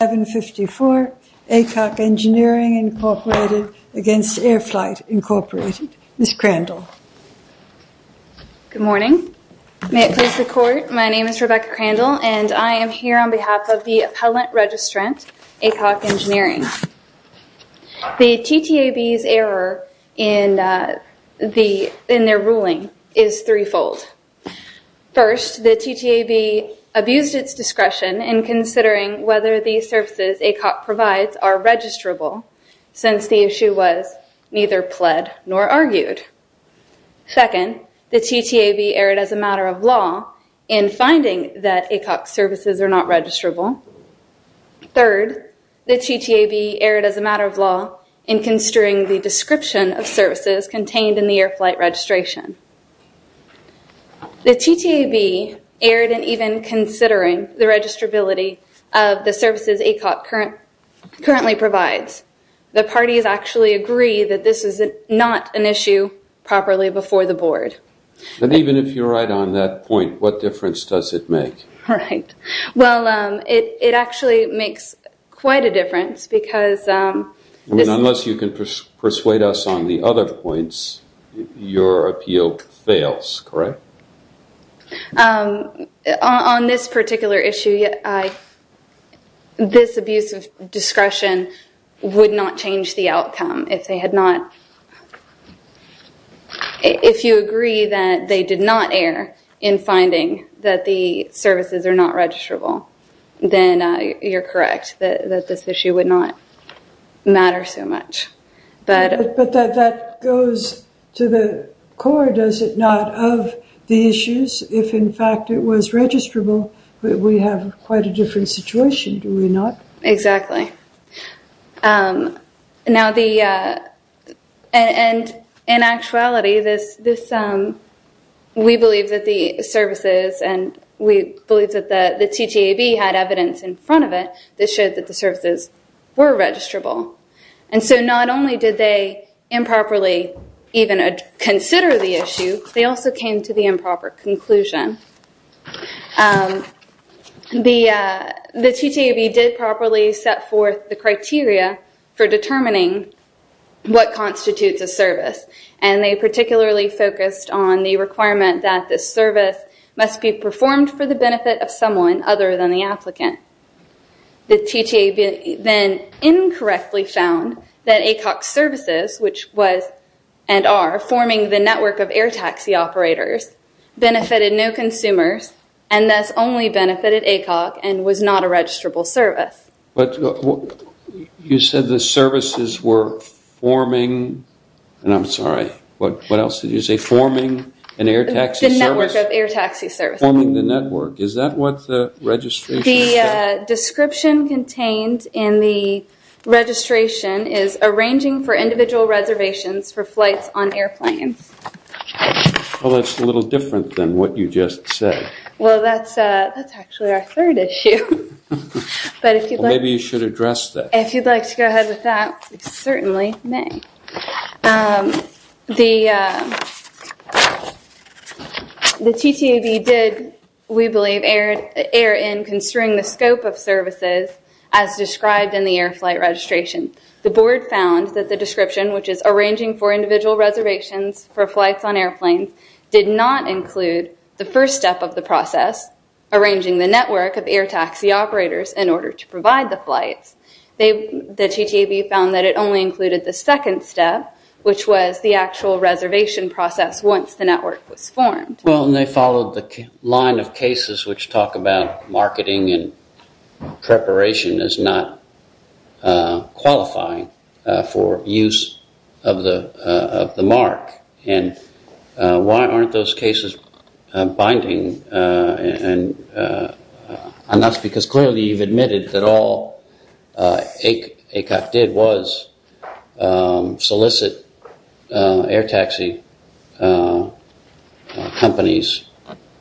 754, ACOC Engineering Incorporated against Airflight Incorporated. Ms. Crandall. Good morning. May it please the court, my name is Rebecca Crandall and I am here on behalf of the Appellant Registrant, ACOC Engineering. The TTAB's error in their ruling is threefold. First, the TTAB abused its discretion in considering whether the services ACOC provides are registrable since the issue was neither pled nor argued. Second, the TTAB erred as a matter of law in finding that ACOC services are not registrable. Third, the TTAB erred as a matter of law in considering the description of services contained in the air flight registration. The TTAB erred in even considering the registrability of the services ACOC currently provides. The parties actually agree that this is not an issue properly before the board. And even if you're right on that point, what difference does it make? Right, well it actually makes quite a difference because... Unless you can persuade us on the other points, your appeal fails, correct? On this particular issue, this abuse of discretion would not change the outcome if they had not... if you agree that they did not err in finding that the services are not registrable, then you're correct, that this issue would not matter so much. But that goes to the core, does it not, of the issues? If in fact it was registrable, we have quite a different situation, do we not? Exactly. Now the... and in actuality, this... we believe that the services and we believe that the TTAB had evidence in front of it that showed that the services were registrable. And so not only did they improperly even consider the issue, they also came to the improper conclusion. The TTAB did properly set forth the criteria for determining what constitutes a service and they particularly focused on the requirement that this service must be performed for the benefit of someone other than the applicant. The TTAB then incorrectly found that ACOC services, which was and are forming the network of air taxi operators, benefited no consumers and thus only benefited ACOC and was not a registrable service. But you said the services were forming... and I'm sorry, what else did you say? Forming an air taxi service? The network of air taxi services. Forming the network. Is that what the registration said? The description contained in the registration is arranging for individual reservations for flights on airplanes. Well, that's a little different than what you just said. Well, that's actually our third issue. But if you'd like... Maybe you should address that. If you'd like to go ahead with that, we certainly may. The TTAB did, we believe, err in construing the scope of services as described in the air flight registration. The board found that the description, which is arranging for individual reservations for flights on airplanes, did not include the first step of the process, arranging the network of air taxi operators in order to provide the flights. The TTAB found that it only included the second step, which was the actual reservation process once the network was formed. Well, and they followed the line of cases which talk about marketing and preparation is not qualifying for use of the mark. And why aren't those cases binding? And that's because clearly you've admitted that all ACOC did was solicit air taxi companies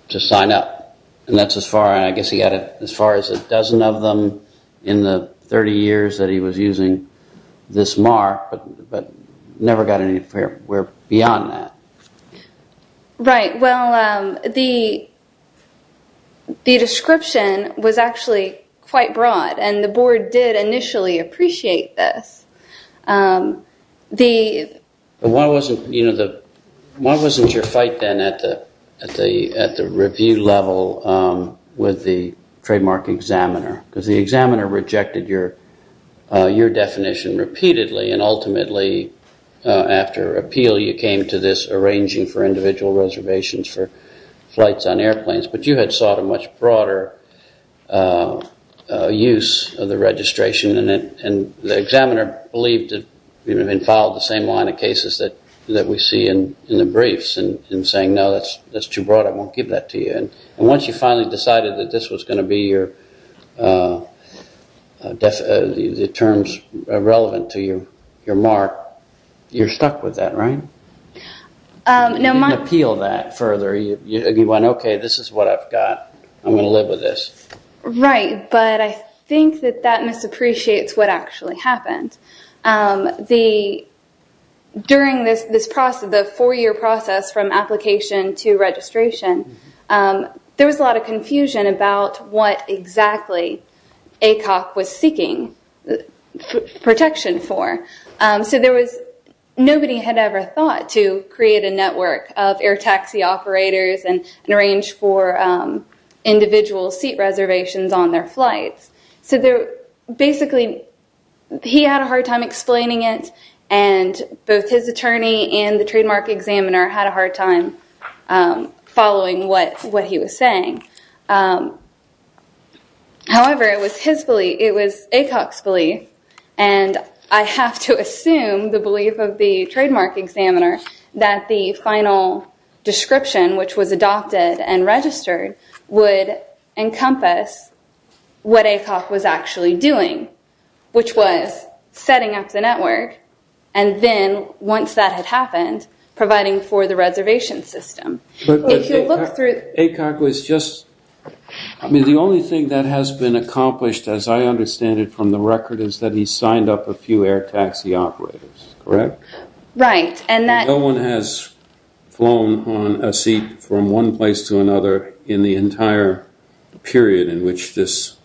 to sign up. And that's as far, I guess he got as far as a dozen of them in the 30 years that he was using this mark, but never got anywhere beyond that. Right. Well, the description was actually quite broad and the board did initially appreciate this. Why wasn't your fight then at the review level with the trademark examiner? Because the examiner rejected your definition repeatedly and ultimately after appeal you came to this arranging for individual reservations for flights on airplanes. But you had sought a much broader use of the registration and the examiner believed that you had been filed the same line of cases that we see in the briefs and saying, no, that's too broad. I won't give that to you. And once you finally decided that this was going to be the terms relevant to your mark, you're stuck with that, right? You didn't appeal that further. You went, okay, this is what I've got. I'm going to live with this. Right. But I think that that misappreciates what actually happened. During this process, the four-year process from application to registration, there was a lot of confusion about what exactly ACOC was seeking protection for. So there was nobody had ever thought to create a network of air taxi operators and arrange for individual seat reservations on their flights. So basically he had a hard time explaining it and both his attorney and the trademark examiner had a hard time following what he was saying. However, it was ACOC's belief and I have to assume the belief of the trademark examiner that the final description which was adopted and registered would encompass what ACOC was actually doing, which was setting up the system. But ACOC was just... I mean, the only thing that has been accomplished as I understand it from the record is that he signed up a few air taxi operators, correct? Right. And that... No one has flown on a seat from one place to another in the entire period in which this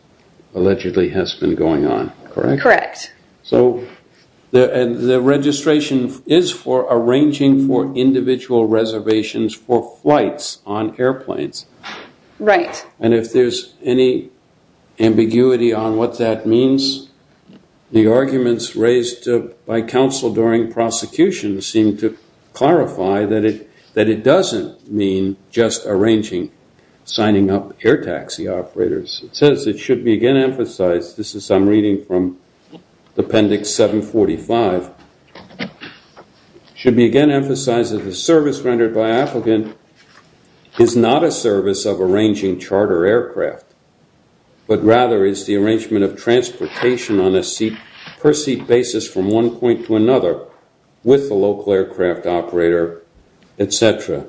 allegedly has been going on, correct? Correct. So the registration is for arranging for individual reservations for flights on airplanes. Right. And if there's any ambiguity on what that means, the arguments raised by counsel during prosecution seem to clarify that it doesn't mean just arranging, signing up air taxi operators. It says it should be again emphasized, this is I'm reading from appendix 745, should be again emphasized that the service rendered by applicant is not a service of arranging charter aircraft, but rather is the arrangement of transportation on a seat per seat basis from one point to another with the local aircraft operator, et cetera.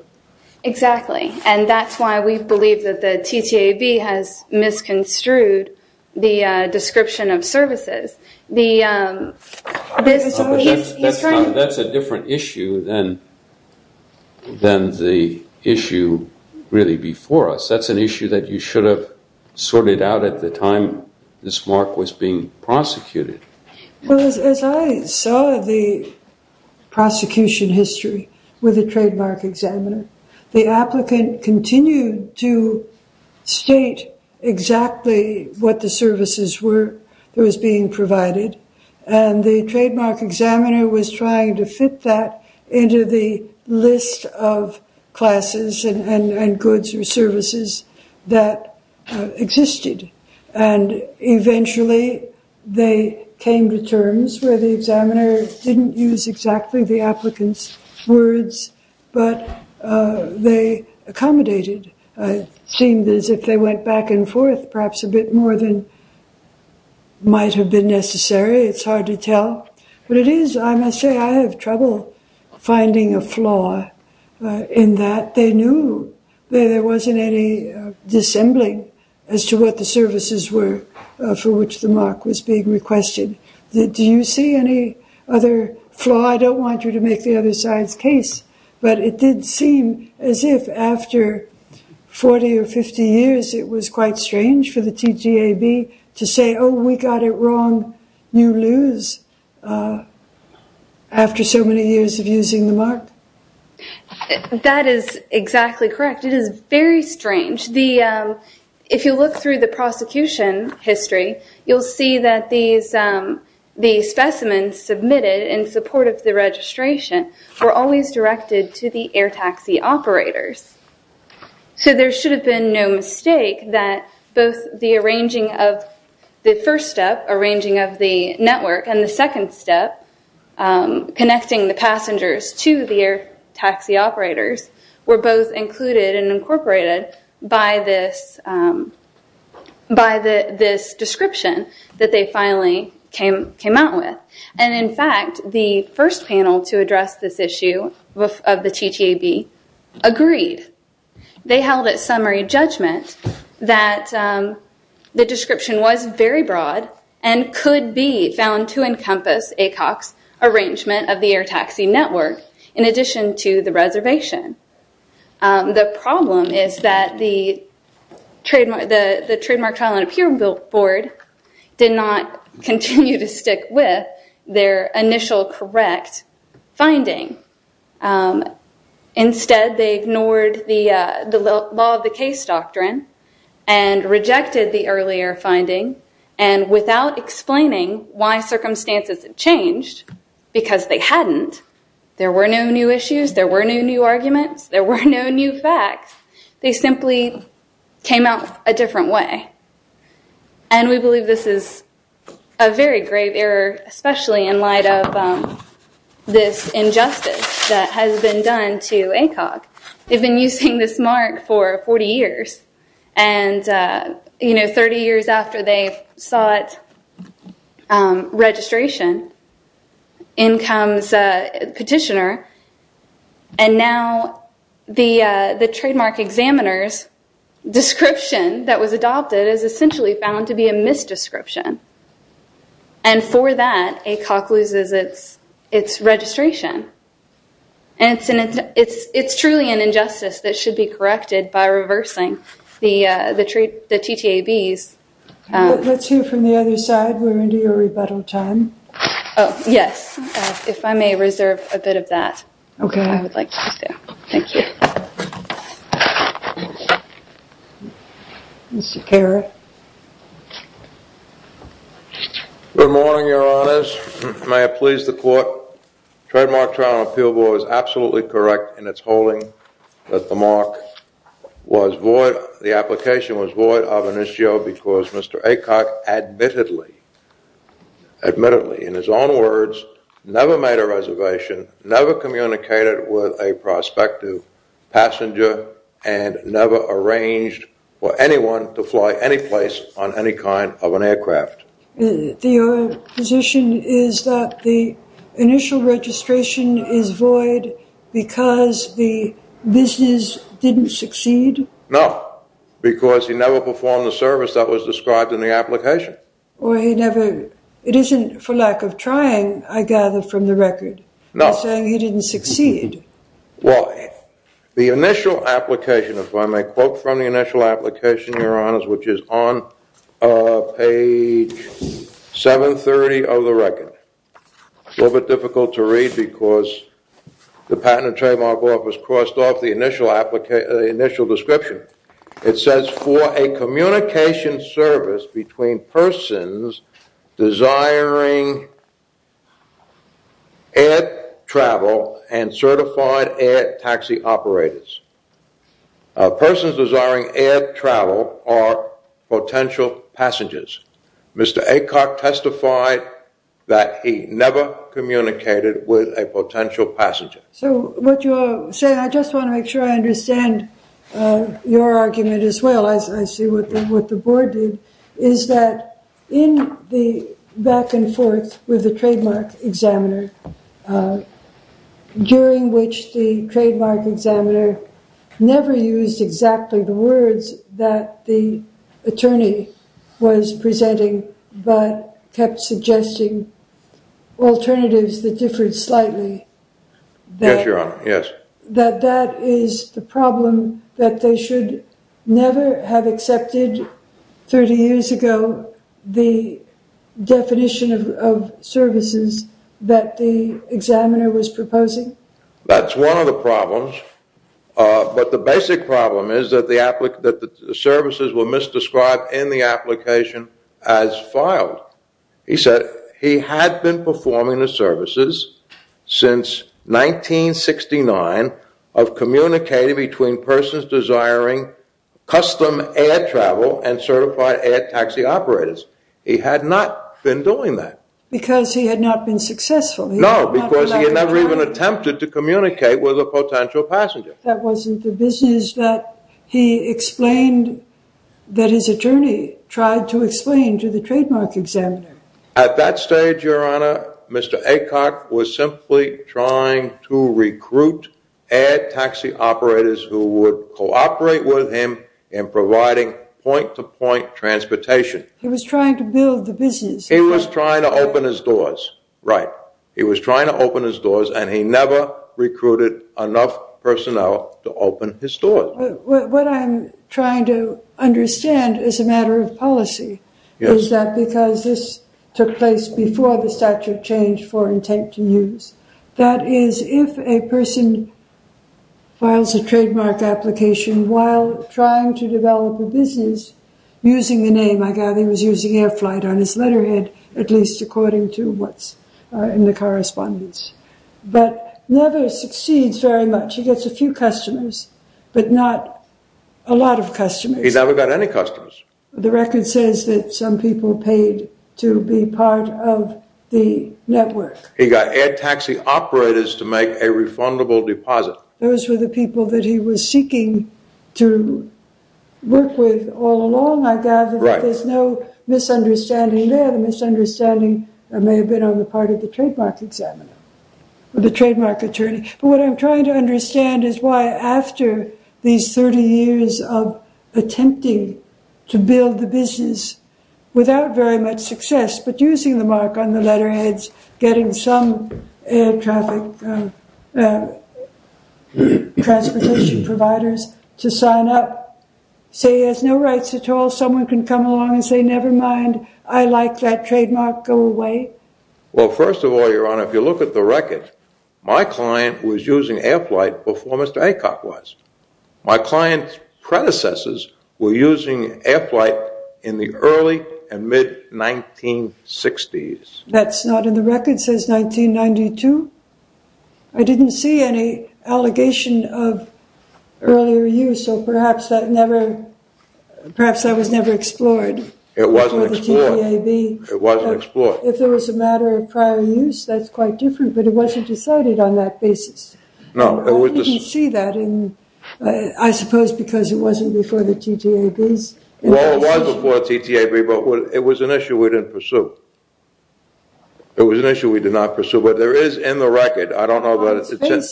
Exactly. And that's why we believe that the TTAB has misconstrued the description of services. The... That's a different issue than the issue really before us. That's an issue that you should have sorted out at the time this mark was being prosecuted. Well, as I saw the prosecution history with the trademark examiner, the applicant continued to state exactly what the services were that was being provided. And the trademark examiner was trying to fit that into the list of classes and goods or services that existed. And eventually they came to terms where the examiner didn't use exactly the applicant's words, but they accommodated. It seemed as if they went back and forth perhaps a bit more than might have been necessary. It's hard to tell. But it is, I must say, I have trouble finding a flaw in that. They knew that there wasn't any dissembling as to what the services were for which the mark was being requested. Do you see any other flaw? I don't want you to make the other side's case, but it did seem as if after 40 or 50 years, it was quite strange for the TTAB to say, oh, we got it wrong. You lose after so many years of using the mark. That is exactly correct. It is very strange. If you look through the prosecution history, you'll see that the specimens submitted in support of the registration were always directed to the air taxi operators. So there should have been no mistake that both the arranging of the first step, arranging of the network, and the second step, connecting the passengers to the air taxi operators, were both included and incorporated by this description that they finally came out with. In fact, the first panel to address this issue of the TTAB agreed. They held at summary judgment that the description was very broad and could be found to encompass ACOC's arrangement of the air taxi network in addition to the reservation. The problem is that the Trademark Trial and Appeal Board did not continue to stick with their initial correct finding. Instead, they ignored the law of the case doctrine and rejected the earlier finding, and without explaining why circumstances had changed, because they hadn't, there were no new issues, there were no new arguments, there were no new facts. They simply came out a different way. And we believe this is a very grave error, especially in light of this injustice that has been done to ACOC. They've been using this mark for 40 years, and 30 years after they sought registration, in comes a petitioner, and now the trademark examiner's description that was adopted is found to be a misdescription. And for that, ACOC loses its registration. And it's truly an injustice that should be corrected by reversing the TTABs. Let's hear from the other side. We're into your rebuttal time. Oh, yes. If I may reserve a bit of that. Okay. I would like you to. Thank you. Mr. Kerr. Good morning, your honors. May it please the court. Trademark Trial and Appeal Board is absolutely correct in its holding that the mark was void, the application was void of an issue because Mr. ACOC admittedly, admittedly, in his own words, never made a reservation, never communicated with a prospective passenger, and never arranged for anyone to fly any place on any kind of an aircraft. Your position is that the initial registration is void because the business didn't succeed? No, because he never performed the service that was described in the application. Or he never, it isn't for lack of trying, I gather from the record, saying he didn't succeed. Well, the initial application, if I may quote from the initial application, your honors, which is on page 730 of the record. A little bit difficult to read because the Patent and Trademark Office crossed off the initial application, the initial description. It says for a communication service between persons desiring air travel and certified air taxi operators. Persons desiring air travel are potential passengers. Mr. ACOC testified that he never communicated with a potential passenger. So what you're saying, I just want to make sure I understand your argument as well, as I see what the board did, is that in the back and forth with the trademark examiner, during which the trademark examiner never used exactly the words that the attorney was presenting, but kept suggesting alternatives that differed slightly. Yes, your honor, yes. That that is the problem that they never have accepted 30 years ago the definition of services that the examiner was proposing. That's one of the problems, but the basic problem is that the applicant, that the services were misdescribed in the application as filed. He said he had been performing the services since 1969 of communicating between persons desiring custom air travel and certified air taxi operators. He had not been doing that. Because he had not been successful. No, because he had never even attempted to communicate with a potential passenger. That wasn't the business that he explained, that his attorney tried to explain to the trademark examiner. At that stage, Mr. Aycock was simply trying to recruit air taxi operators who would cooperate with him in providing point-to-point transportation. He was trying to build the business. He was trying to open his doors, right. He was trying to open his doors and he never recruited enough personnel to open his doors. What I'm trying to understand as a matter of policy, is that because this took before the statute changed for intent to use. That is, if a person files a trademark application while trying to develop a business using the name, I gather he was using air flight on his letterhead, at least according to what's in the correspondence. But never succeeds very much. He gets a few customers, but not a lot of customers. He's never got any customers. The record says that some paid to be part of the network. He got air taxi operators to make a refundable deposit. Those were the people that he was seeking to work with all along. I gather that there's no misunderstanding there. The misunderstanding may have been on the part of the trademark examiner or the trademark attorney. But what I'm trying to understand is why after these 30 years of to build the business without very much success, but using the mark on the letterheads, getting some air traffic transportation providers to sign up, say he has no rights at all. Someone can come along and say, never mind. I like that trademark. Go away. Well, first of all, your honor, if you look at the record, my client was using air flight before Mr. Aycock was. My client's predecessors were using air flight in the early and mid 1960s. That's not in the record says 1992. I didn't see any allegation of earlier use. So perhaps that never, perhaps that was never explored. It wasn't explored. It wasn't explored. If there was a matter of prior use, that's quite different, but it wasn't decided on that basis. We didn't see that in, I suppose, because it wasn't before the TTABs. Well, it was before the TTAB, but it was an issue we didn't pursue. It was an issue we did not pursue, but there is in the record. I don't know about it.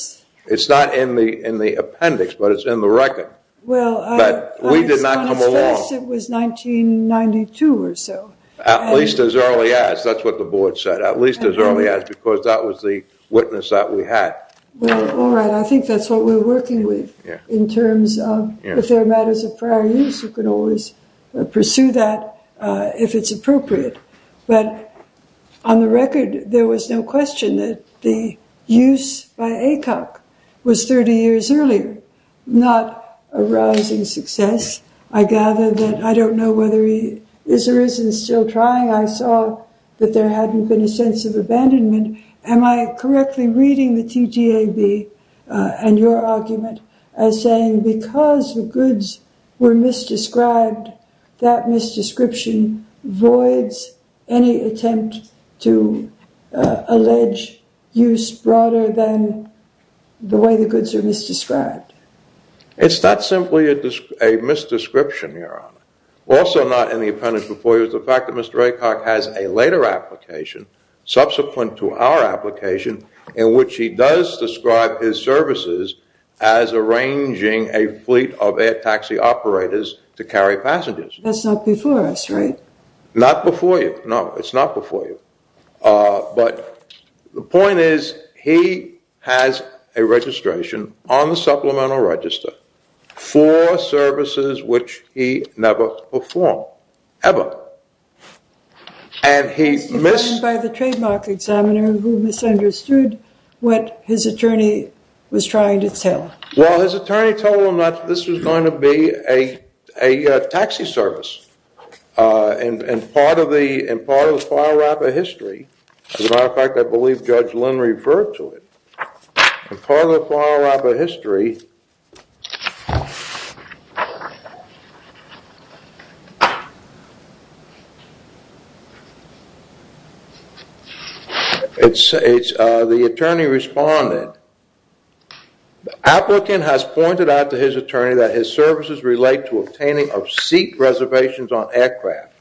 It's not in the appendix, but it's in the record. Well, I just want to stress it was 1992 or so. At least as early as. That's what the board said. At least as early as because that was the All right. I think that's what we're working with in terms of, if there are matters of prior use, you can always pursue that if it's appropriate. But on the record, there was no question that the use by Aycock was 30 years earlier, not a rising success. I gather that I don't know whether he is or isn't still trying. I saw that there hadn't been a sense of abandonment. Am I correctly reading the TTAB and your argument as saying because the goods were misdescribed, that misdescription voids any attempt to allege use broader than the way the goods are misdescribed? It's not simply a misdescription, Your Honor. Also not in the appendix before you is the fact Mr. Aycock has a later application subsequent to our application in which he does describe his services as arranging a fleet of air taxi operators to carry passengers. That's not before us, right? Not before you. No, it's not before you. But the point is he has a registration on the supplemental register for services which he has never performed, ever. And he missed by the trademark examiner who misunderstood what his attorney was trying to tell. Well, his attorney told him that this was going to be a taxi service and part of the file wrapper history, as a matter of fact, I believe Judge Lynn referred to it, part of the file wrapper history here. It's the attorney responded, the applicant has pointed out to his attorney that his services relate to obtaining of seat reservations on aircraft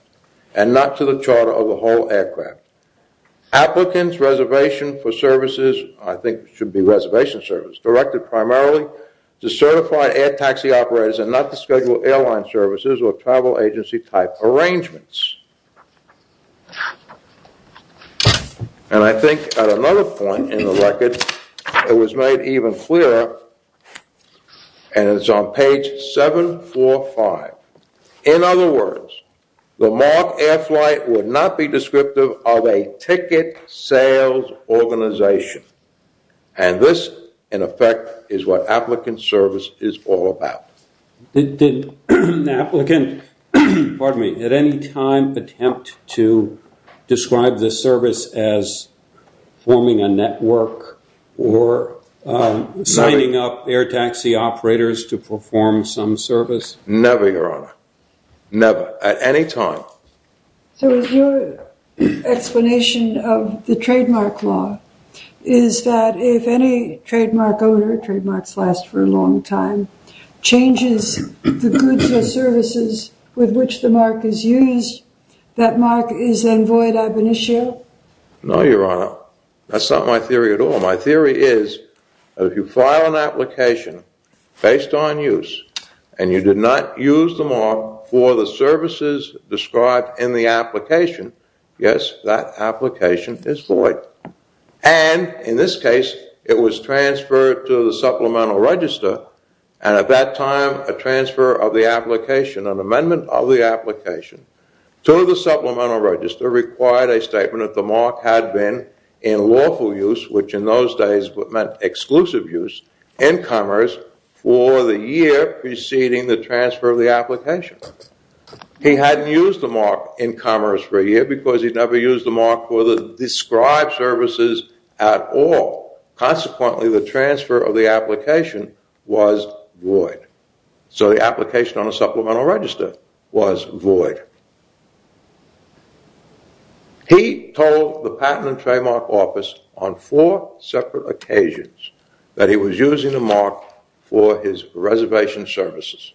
and not to the charter of the whole aircraft. Applicants reservation for services, I think should be reservation service, directed primarily to certified air taxi operators and not to schedule airline services or travel agency type arrangements. And I think at another point in the record it was made even clearer and it's on page 745. In other words, the mark air flight would not be descriptive of a ticket sales organization. And this, in effect, is what applicant service is all about. Did an applicant, pardon me, at any time attempt to describe the service as forming a network or signing up air taxi operators to perform some service? Never, Your Honor. Never. At any time. So is your explanation of the trademark law is that if any trademark owner, trademarks last for a long time, changes the goods or services with which the mark is used, that mark is then void ab initio? No, Your Honor. That's not my use of the mark for the services described in the application. Yes, that application is void. And in this case, it was transferred to the supplemental register. And at that time, a transfer of the application, an amendment of the application to the supplemental register required a statement that the mark had been in lawful use, which in those days meant exclusive use, in commerce for the year preceding the transfer of the application. He hadn't used the mark in commerce for a year because he never used the mark for the described services at all. Consequently, the transfer of the application was void. So the application on a supplemental register was void. He told the Patent and Trademark Office on four separate occasions that he was using the mark for his reservation services.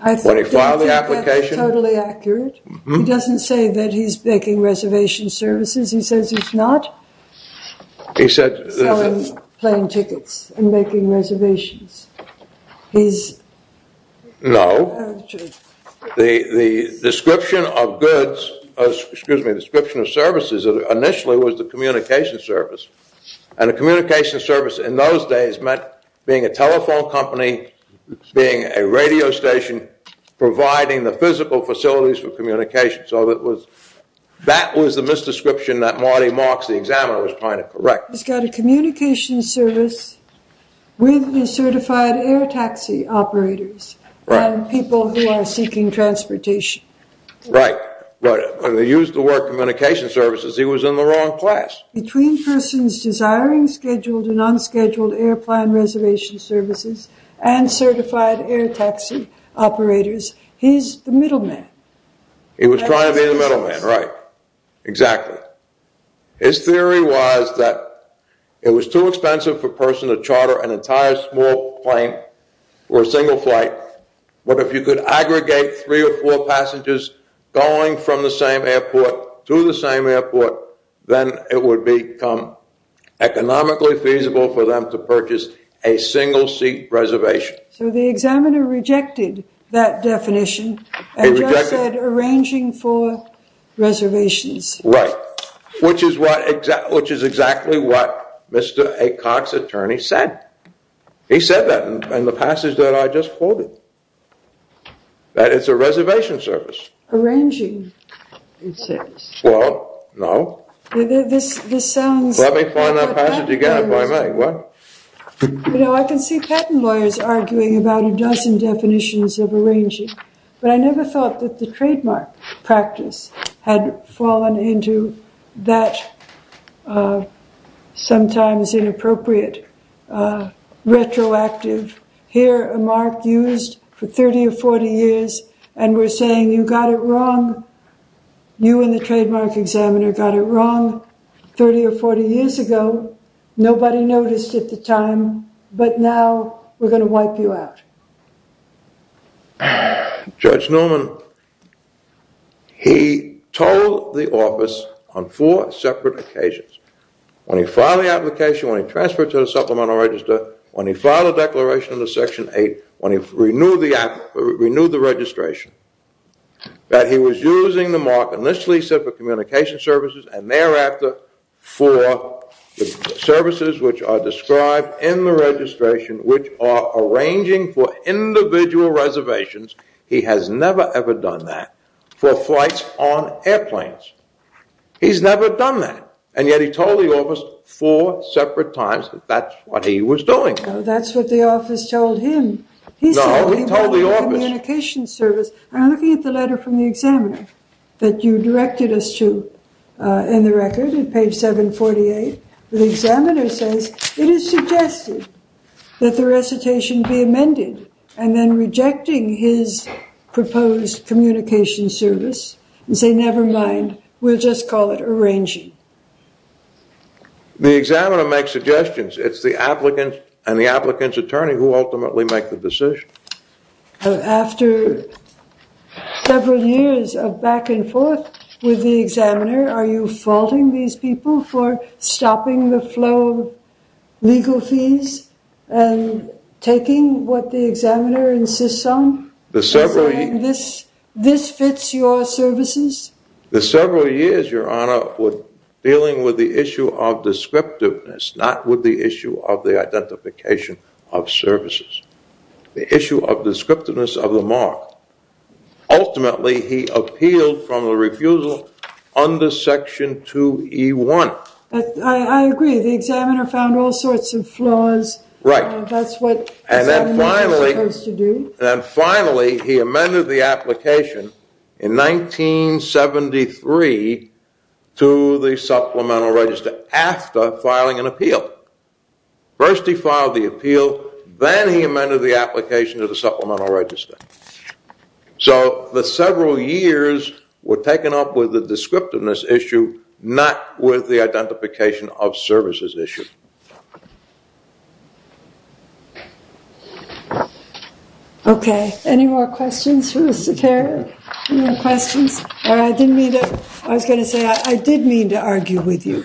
I don't think that's totally accurate. He doesn't say that he's making reservation services. He says he's not selling plane tickets and making reservations. No. The description of goods, excuse me, description of services initially was the communication service. And the communication service in those days meant being a telephone company, being a radio station, providing the physical facilities for communication. So that was the misdescription that Marty Marks, the examiner, was trying to correct. He's got a communication service with the certified air services. He was in the wrong class. Between persons desiring scheduled and unscheduled airplane reservation services and certified air taxi operators, he's the middle man. He was trying to be the middle man, right. Exactly. His theory was that it was too expensive for a person to charter an entire small plane or a single flight. But if you could aggregate three or four passengers going from the same airport to the same airport, then it would become economically feasible for them to purchase a single seat reservation. So the examiner rejected that definition and just said arranging for reservations. Right. Which is exactly what reservation service. Arranging, it says. Well, no. Let me find that passage again if I may. You know, I can see patent lawyers arguing about a dozen definitions of arranging, but I never thought that the trademark practice had fallen into that sometimes inappropriate retroactive. Here a mark used for 30 or 40 years and we're saying you got it wrong. You and the trademark examiner got it wrong 30 or 40 years ago. Nobody noticed at the time, but now we're going to wipe you out. Judge Norman, he told the office on four separate occasions. When he filed the application, when he transferred to the supplemental register, when he filed a declaration in the section eight, when he renewed the registration, that he was using the mark initially set for communication services and thereafter for services which are described in the registration, which are arranging for individual reservations. He has never ever done that for flights on airplanes. He's never done that. And yet he told the office four separate times that that's what he was doing. That's what the office told him. No, we told the office. He said he wanted communication service. I'm looking at the letter from the examiner that you directed us to in the record at page 748. The examiner says it is suggested that the recitation be amended and then rejecting his proposed communication service and say never mind, we'll just call it arranging. The examiner makes suggestions. It's the applicant and the applicant's attorney who ultimately make the decision. After several years of back and forth with the examiner, are you faulting these people for stopping the flow of services? The several years, your honor, were dealing with the issue of descriptiveness, not with the issue of the identification of services. The issue of descriptiveness of the mark. Ultimately, he appealed from the refusal under section 2E1. I agree. The examiner found all sorts of flaws. Right. That's what the examiner was supposed to do. And then finally, he amended the application in 1973 to the supplemental register after filing an appeal. First he filed the appeal, then he amended the application to the supplemental register. So, the several years were taken up with the descriptiveness issue, not with the identification of services issue. Okay. Any more questions for Mr. Terry? Any more questions? Or I didn't mean to, I was going to say, I did mean to argue with you.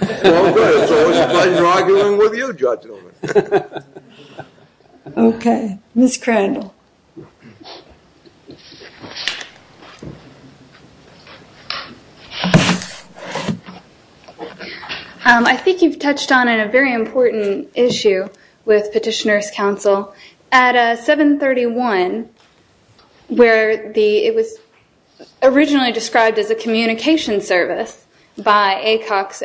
Okay. Ms. Crandall. I think you've touched on a very important issue with Petitioner's Council. At 731 where it was originally described as a communication service by Aycock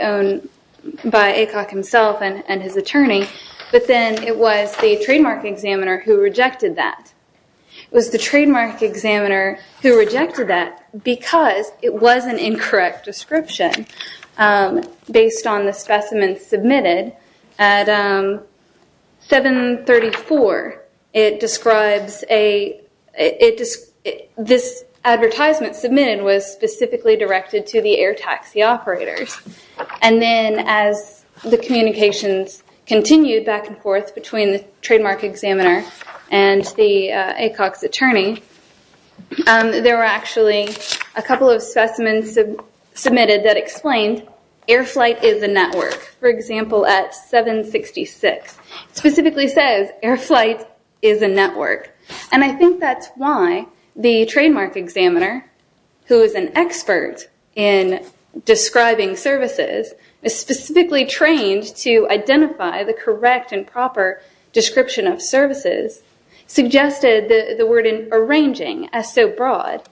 himself and his attorney, but then it was the trademark examiner who rejected that. The trademark examiner was the one who rejected it. It was the trademark examiner who rejected that because it was an incorrect description based on the specimen submitted. At 734, it describes a, this advertisement submitted was specifically directed to the air taxi operators. And then as the communications continued back and forth between the trademark examiner and the Aycock's attorney, there were actually a couple of specimens submitted that explained, air flight is a network. For example, at 766, it specifically says air flight is a network. And I think that's why the trademark examiner, who is an expert in describing services, specifically trained to identify the correct and proper description of services, suggested the word arranging as so broad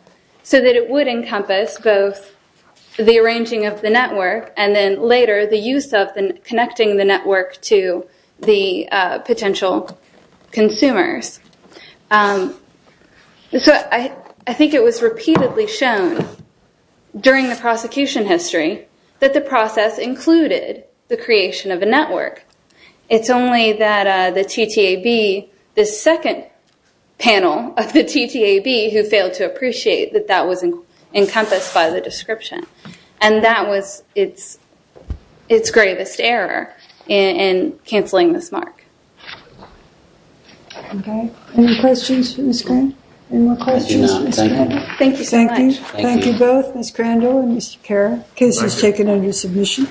so that it would encompass both the arranging of the network and then later the use of connecting the network to the potential consumers. So I think it was repeatedly shown during the prosecution history that the process included the creation of a network. It's only that the TTAB, the second panel of the TTAB who failed to appreciate that that was encompassed by the description. And that was its gravest error in canceling this mark. Okay. Any questions for Ms. Grandel? Any more questions? Thank you so much. Thank you both, Ms. Grandel and Mr. Kara. Case is taken under submission.